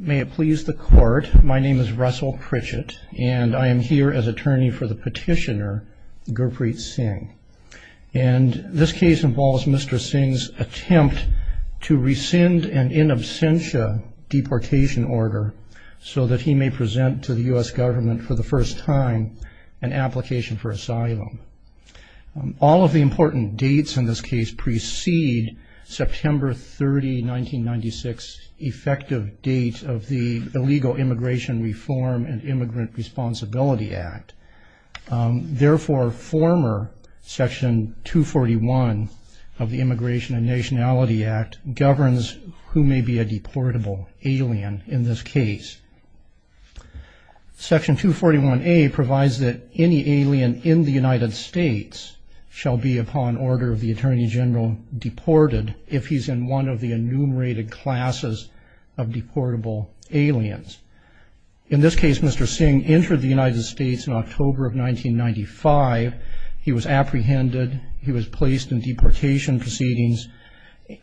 May it please the court, my name is Russell Pritchett and I am here as attorney for the petitioner Gurpreet Singh and this case involves Mr. Singh's attempt to rescind an in absentia deportation order so that he may present to the US government for the first time an application for asylum. All of the important dates in this case precede September 30, 1996 effective date of the Illegal Immigration Reform and Immigrant Responsibility Act. Therefore former section 241 of the Immigration and Nationality Act governs who may be a deportable alien in this case. Section 241A provides that any alien in the upon order of the Attorney General deported if he's in one of the enumerated classes of deportable aliens. In this case Mr. Singh entered the United States in October of 1995. He was apprehended, he was placed in deportation proceedings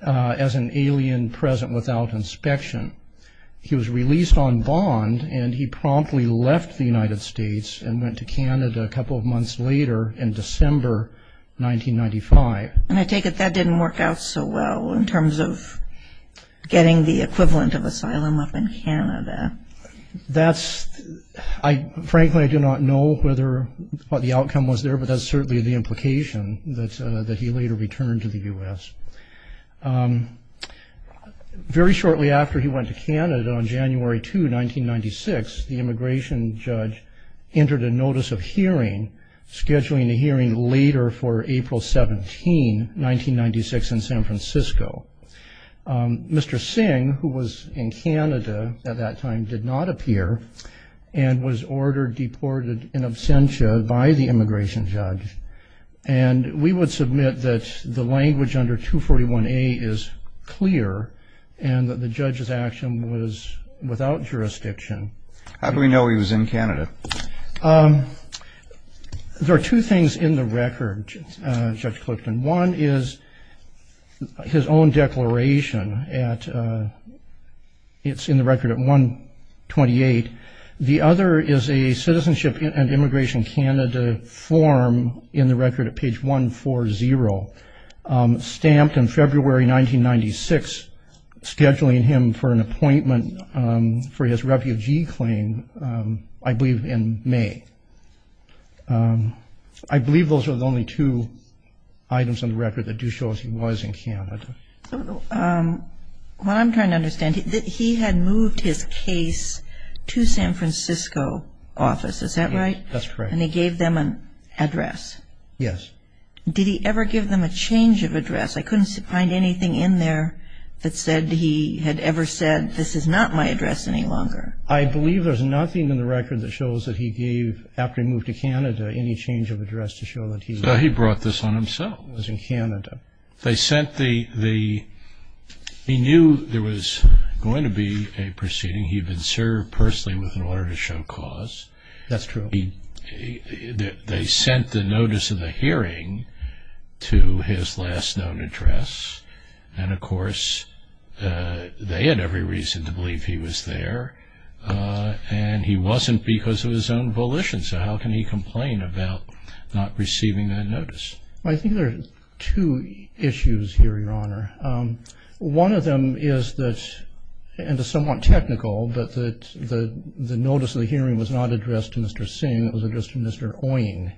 as an alien present without inspection. He was released on bond and he promptly left the United States and went to Canada a couple of months later in December 1995. And I take it that didn't work out so well in terms of getting the equivalent of asylum up in Canada. That's I frankly I do not know whether what the outcome was there but that's certainly the implication that that he later returned to the US. Very shortly after he went to Canada on for April 17 1996 in San Francisco. Mr. Singh who was in Canada at that time did not appear and was ordered deported in absentia by the immigration judge. And we would submit that the language under 241A is clear and that the judge's action was without jurisdiction. How do we know he was in Canada? There are two things in the record Judge Clifton. One is his own declaration at it's in the record at 128. The other is a Citizenship and Immigration Canada form in the record at page 140 stamped in February 1996 scheduling him for an I believe those are the only two items on the record that do show he was in Canada. What I'm trying to understand that he had moved his case to San Francisco office is that right? That's correct. And he gave them an address? Yes. Did he ever give them a change of address? I couldn't find anything in there that said he had ever said this is not my address any longer. I believe there's nothing in the record that shows that he gave after he moved to Canada any change of address to show that he brought this on himself. He was in Canada. They sent the the he knew there was going to be a proceeding he'd been served personally with an order to show cause. That's true. They sent the notice of the hearing to his last known address and of course they had every reason to believe he was there and he wasn't because of his own volition so how can he complain about not receiving that notice? I think there's two issues here your honor. One of them is that and it's somewhat technical but that the the notice of the hearing was not addressed to Mr. Singh it was addressed to Mr. Oying.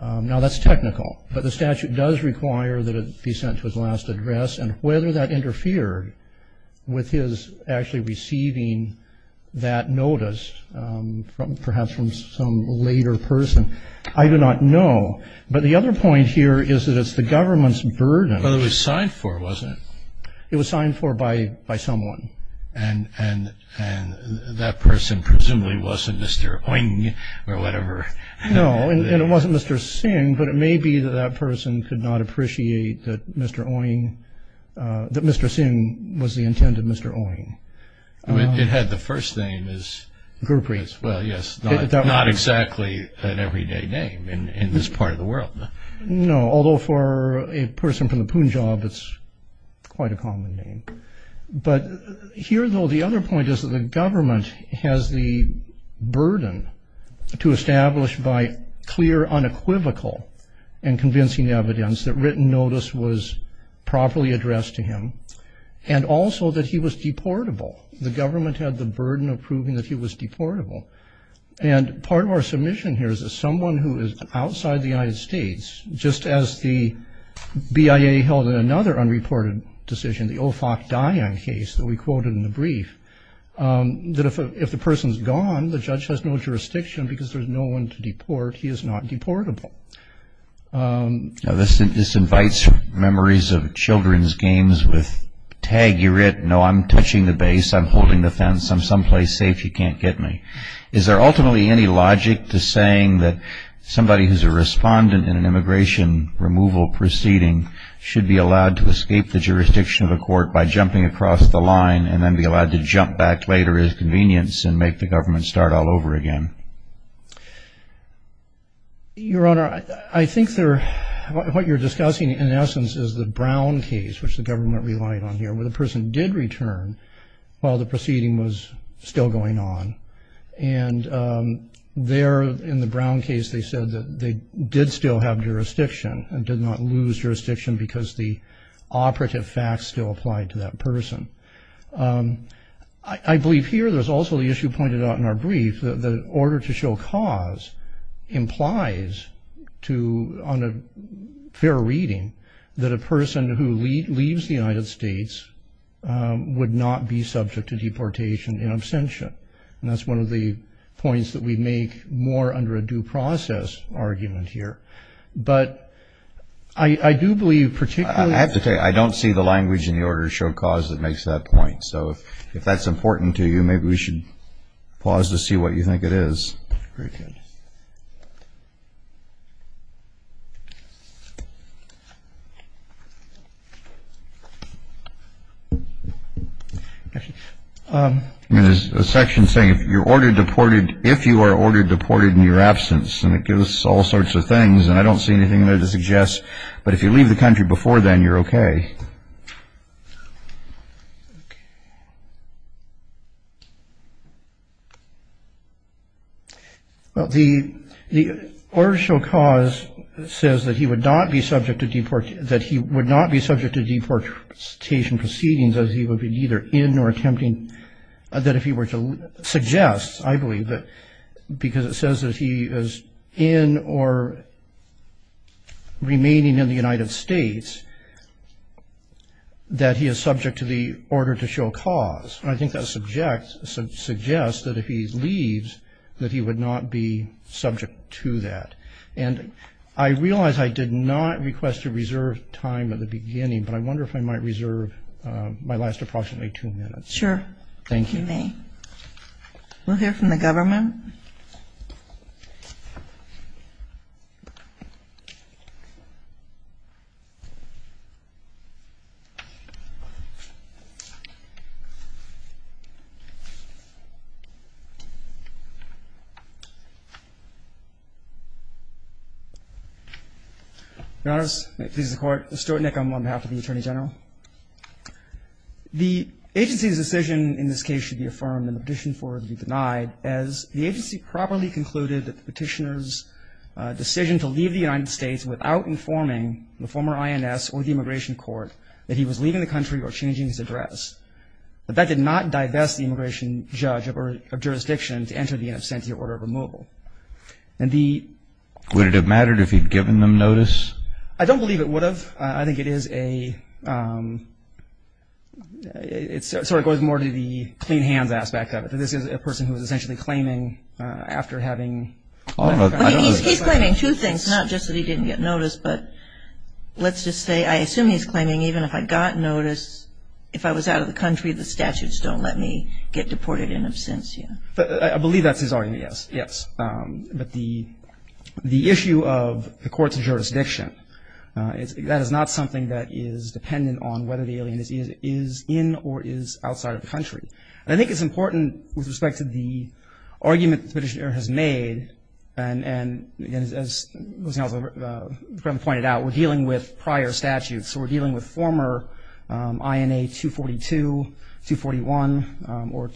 Now that's technical but the statute does require that it be sent to his last address and whether that interfered with his actually receiving that notice from some later person I do not know but the other point here is that it's the government's burden. But it was signed for wasn't it? It was signed for by by someone. And that person presumably wasn't Mr. Oying or whatever. No and it wasn't Mr. Singh but it may be that that person could not appreciate that Mr. Oying that Mr. Singh was the intended Mr. Oying. It had the first name is Gurpree. Well yes not exactly an everyday name in this part of the world. No although for a person from the Punjab it's quite a common name. But here though the other point is that the government has the burden to establish by clear unequivocal and convincing evidence that written notice was properly addressed to him and also that he was deportable. The government had the burden of proving that he was deportable. And part of our submission here is that someone who is outside the United States just as the BIA held in another unreported decision the O. Fock Dian case that we quoted in the brief that if the person's gone the judge has no jurisdiction because there's no one to deport he is not deportable. Now this invites memories of children's games with tag you're it no I'm touching the base I'm holding the fence I'm someplace safe you can't get me. Is there ultimately any logic to saying that somebody who's a respondent in an immigration removal proceeding should be allowed to escape the jurisdiction of a court by jumping across the line and then be allowed to jump back later as convenience and make the government start all over again? Your Honor I think they're what you're discussing in essence is the Brown case which the government relied on here where the person did return while the proceeding was still going on. And there in the Brown case they said that they did still have jurisdiction and did not lose jurisdiction because the operative facts still applied to that person. I believe here there's also the issue pointed out in our brief that the order to show cause implies to on a fair reading that a person who leaves the United States would not be subject to deportation in absentia. And that's one of the points that we make more under a due process argument here. But I do believe particularly... I have to tell you I don't see the language in the order to show cause that makes that point. So if that's important to you maybe we should pause to see what you think it is. There's a section saying if you're ordered deported if you are ordered deported in your absence and it gives us all sorts of things and I don't see anything there to suggest but if you leave the country before then you're Well the order to show cause says that he would not be subject to deportation proceedings as he would be neither in nor attempting that if he were to suggest I believe that because it says that he is in or remaining in the United States that he is subject to the order to show cause. I think that suggests that if he leaves that he would not be subject to that. And I realize I did not request to reserve time at the beginning but I wonder if I might reserve my last approximately two minutes. Sure. Thank you. We'll hear from the attorney general. The agency's decision in this case should be affirmed in the petition for it to be denied as the agency properly concluded that the petitioner's decision to leave the United States without informing the former president of the immigration court that he was leaving the country or changing his address. But that did not divest the immigration judge of jurisdiction to enter the in absentia order of removal. Would it have mattered if he'd given them notice? I don't believe it would have. I think it is a it sort of goes more to the clean hands aspect of it. This is a person who was essentially claiming after having He's claiming two things not just that he didn't get notice but let's just say I assume he's claiming even if I got notice if I was out of the country the statutes don't let me get deported in absentia. I believe that's his argument. Yes. Yes. But the issue of the court's jurisdiction that is not something that is dependent on whether the alien is in or is outside of the country. I think it's important with respect to the argument petitioner has made. And as pointed out we're dealing with prior statutes. We're dealing with former INA 242 241 or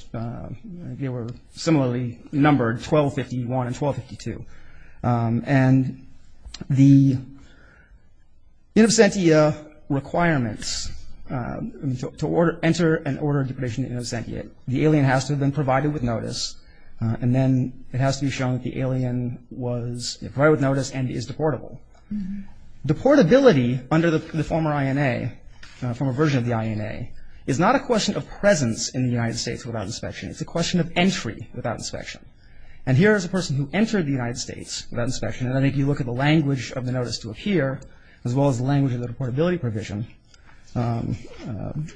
they were similarly numbered 1251 and 1252. And the in absentia requirement to enter an order of depredation in absentia the alien has to have been provided with notice. And then it has to be shown that the alien was provided with notice and is deportable. Deportability under the former INA from a version of the INA is not a question of presence in the United States without inspection. It's a question of entry without inspection. And here is a person who entered the United States without inspection. And I think you look at the language of the deportability provision, the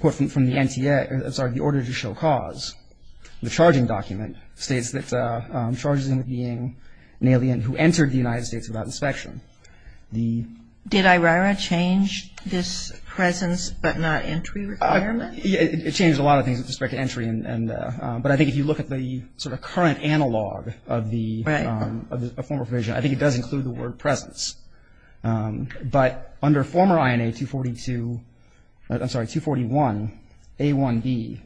quote from the NTA, sorry, the order to show cause. The charging document states that charges him of being an alien who entered the United States without inspection. Did IRIRA change this presence but not entry requirement? It changed a lot of things with respect to entry. But I think if you look at the sort of current analog of the former provision, I think it does include the under former INA 242, I'm sorry, 241, A1B,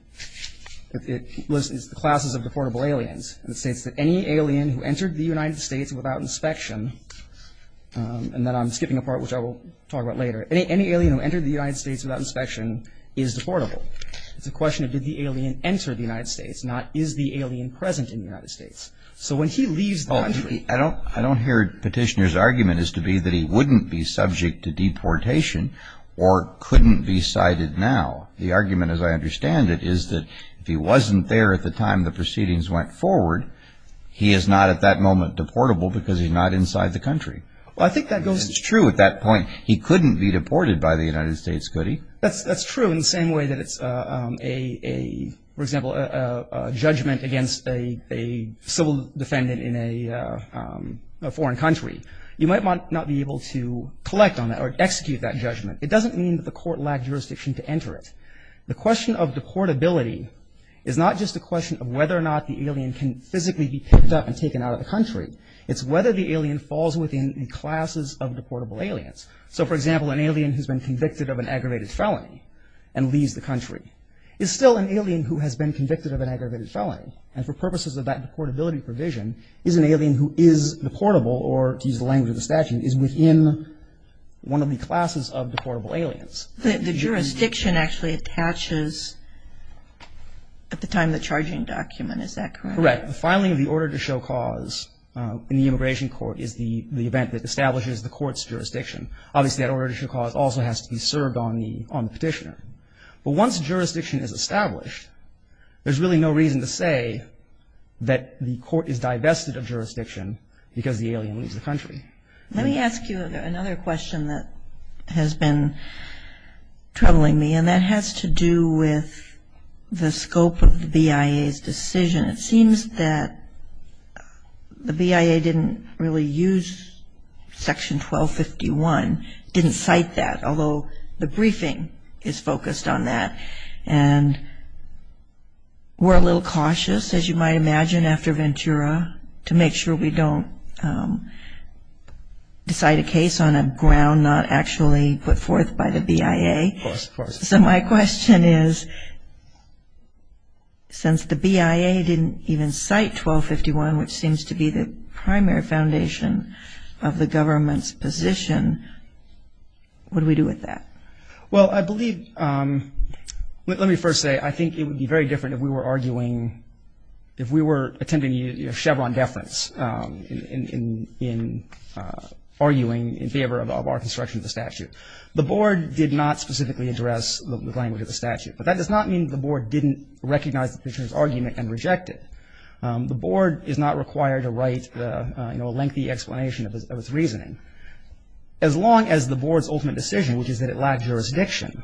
it lists the classes of deportable aliens. And it states that any alien who entered the United States without inspection, and then I'm skipping a part which I will talk about later, any alien who entered the United States without inspection is deportable. It's a question of did the alien enter the United States, not is the alien present in the United States. So when he leaves the country I don't hear Petitioner's argument as to be that he wouldn't be subject to deportation or couldn't be cited now. The argument as I understand it is that if he wasn't there at the time the proceedings went forward, he is not at that moment deportable because he's not inside the country. Well, I think that goes It's true at that point he couldn't be deported by the United States, could he? That's true in the same way that it's a, for example, a judgment against a civil defendant in a foreign country. You might not be able to collect on that or execute that judgment. It doesn't mean that the court lacked jurisdiction to enter it. The question of deportability is not just a question of whether or not the alien can physically be picked up and taken out of the country. It's whether the alien falls within the classes of deportable aliens. So, for example, an alien who's been convicted of an aggravated felony and leaves the country is still an alien who has been convicted of an aggravated felony. And for purposes of that deportability provision is an alien who is deportable or, to use the language of the statute, is within one of the classes of deportable aliens. The jurisdiction actually attaches at the time of the charging document, is that correct? Correct. The filing of the order to show cause in the immigration court is the event that establishes the court's jurisdiction. Obviously, that order to show cause also has to be served on the petitioner. But once jurisdiction is established, there's really no reason to say that the court is divested of jurisdiction because the alien leaves the country. Let me ask you another question that has been troubling me, and that has to do with the scope of the BIA's decision. It seems that the BIA didn't really use Section 1251, didn't cite that, although the briefing is focused on that. And we're a little cautious, as you might imagine, after Ventura to make sure we don't decide a case on a ground not actually put forth by the BIA. Of course. So my question is, since the BIA didn't even cite 1251, which seems to be the scope of the government's position, what do we do with that? Well, I believe, let me first say, I think it would be very different if we were arguing, if we were attending a Chevron deference in arguing in favor of our construction of the statute. The Board did not specifically address the language of the statute. But that does not mean the Board didn't recognize the petitioner's argument and reject it. The Board is not required to write, you know, a lengthy explanation of its reasoning. As long as the Board's ultimate decision, which is that it lacked jurisdiction,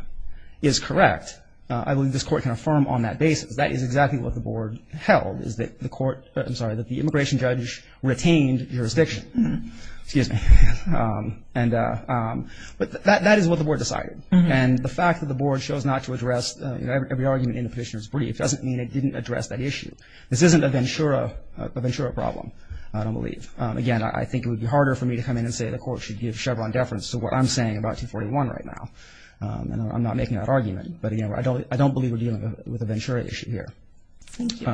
is correct, I believe this Court can affirm on that basis. That is exactly what the Board held, is that the Court, I'm sorry, that the immigration judge retained jurisdiction. Excuse me. But that is what the Board decided. And the fact that the Board chose not to address every argument in the petitioner's brief doesn't mean it didn't address that issue. This isn't a Ventura problem, I don't believe. Again, I think it would be harder for me to come in and say the Court should give Chevron deference to what I'm saying about 241 right now. I'm not making that argument. But again, I don't believe we're dealing with a Ventura issue here. Thank you.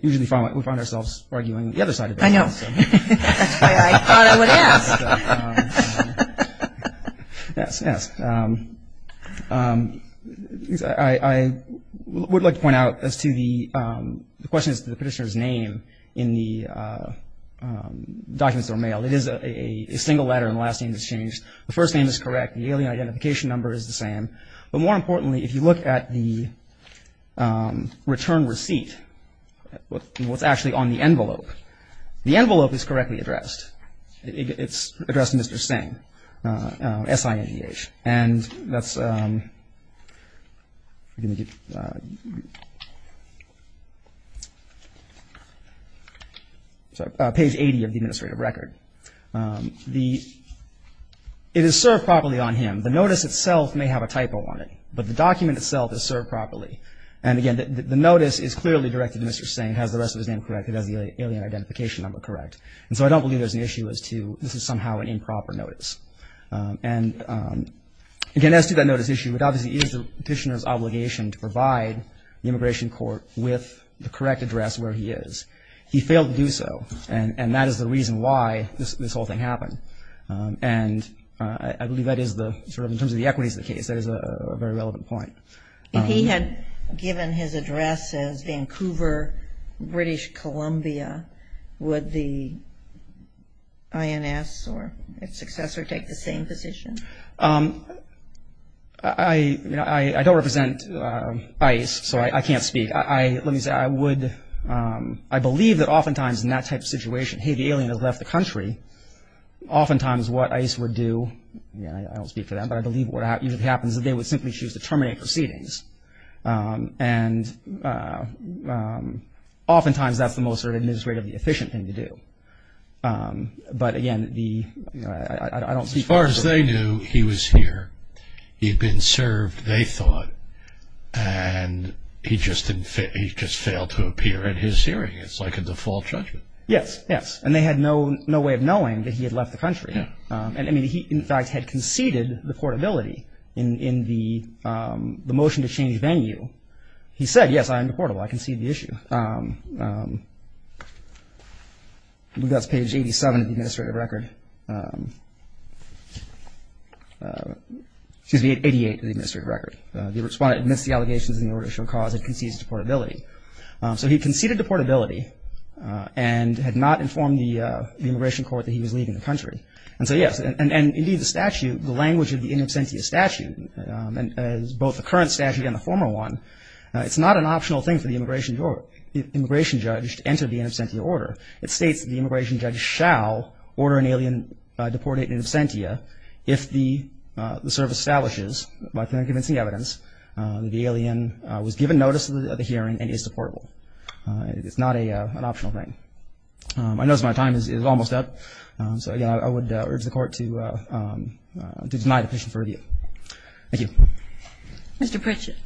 Usually we find ourselves arguing the other side of things. I know. That's why I thought I would ask. Yes, yes. I would like to point out as to the question as to the petitioner's name in the documents that were mailed. It is a single letter and the last name has changed. The first name is correct. The alien identification number is the same. But more importantly, if you look at the return receipt, what's actually on the envelope, the envelope is correctly addressed. It's addressed to Mr. Singh, S-I-N-G-H. And that's page 80 of the administrative record. It is served properly on him. The notice itself may have a typo on it, but the document itself is served properly. And again, the notice is clearly directed to Mr. Singh, S-I-N-G-H. It has the alien identification number correct. And so I don't believe there's an issue as to this is somehow an improper notice. And again, as to that notice issue, it obviously is the petitioner's obligation to provide the immigration court with the correct address where he is. He failed to do so. And that is the reason why this whole thing happened. And I believe that is the sort of in terms of the equities of the case, that is a very relevant point. If he had given his address as Vancouver, British Columbia, would the INS or its successor take the same position? I don't represent ICE, so I can't speak. I believe that oftentimes in that type of situation, hey, the alien has left the country, oftentimes what ICE would do, I don't speak for them, but I believe what happens is they would simply choose to terminate proceedings. And oftentimes that's the most administratively efficient thing to do. But again, I don't speak for ICE. As far as they knew, he was here. He had been served, they thought, and he just failed to appear at his hearing. It's like a default judgment. Yes, yes. And they had no way of knowing that he had left the country. And I mean, he in fact had conceded deportability in the motion to change venue. He said, yes, I am deportable, I concede the issue. That's page 87 of the administrative record. Excuse me, 88 of the administrative record. The respondent admits the allegations in the order to show cause and concedes deportability. So he conceded deportability and had not informed the immigration court that he was leaving the country. And so yes, and indeed the statute, the language of the in absentia statute, as both the current statute and the former one, it's not an optional thing for the immigration judge to enter the in absentia order. It states that the immigration judge shall order an alien deported in absentia if the service establishes by convincing evidence that the alien was given notice of the hearing and is deportable. It's not an optional thing. I notice my time is almost up. So, again, I would urge the court to deny the petition for review. Thank you. Mr. Pritchett.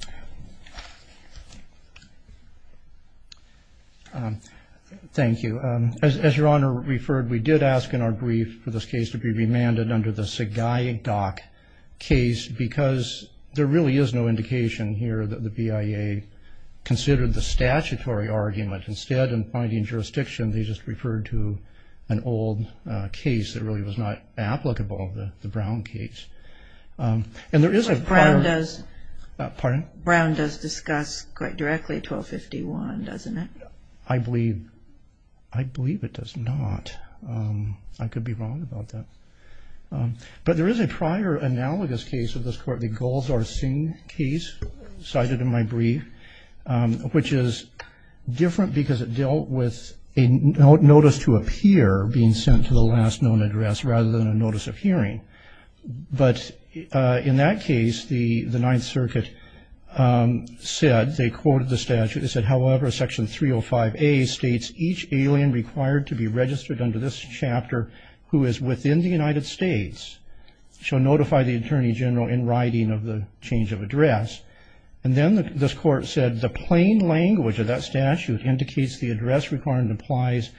Thank you. As Your Honor referred, we did ask in our brief for this case to be remanded under the Sagaik doc case because there really is no indication here that the BIA considered the statutory argument. Instead, in finding jurisdiction, they just referred to an old case that really was not applicable, the Brown case. Brown does discuss quite directly 1251, doesn't it? I believe it does not. I could be wrong about that. But there is a prior analogous case of this court, the Golzar-Singh case cited in my brief, which is different because it dealt with a notice to appear being sent to the last known address rather than a notice of hearing. But in that case, the Ninth Circuit said, they quoted the statute, they said, however, Section 305A states each alien required to be registered under this chapter who is within the United States shall notify the Attorney General in writing of the change of address. And then this court said the plain language of that statute indicates the address requirement applies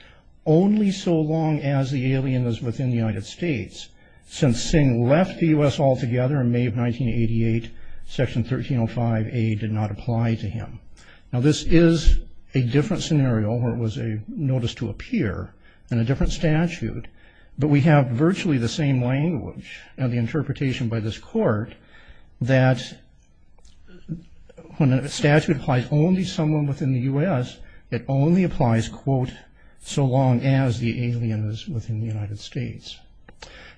only so long as the alien is within the United States. Since Singh left the U.S. altogether in May of 1988, Section 1305A did not apply to him. Now, this is a different scenario where it was a notice to appear in a different statute, but we have virtually the same language and the interpretation by this when a statute applies only to someone within the U.S., it only applies, quote, so long as the alien is within the United States.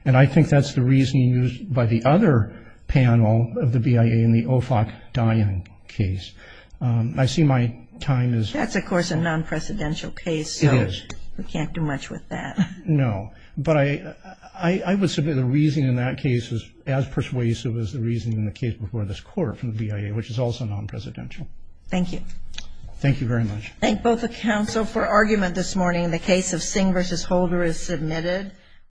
And I think that's the reasoning used by the other panel of the BIA in the OFAC Dian case. I see my time is up. That's, of course, a non-presidential case. It is. We can't do much with that. No. But I would submit the reasoning in that case is as persuasive as the reasoning in the case before this court from the BIA, which is also non-presidential. Thank you. Thank you very much. Thank both the counsel for argument this morning. The case of Singh v. Holder is submitted.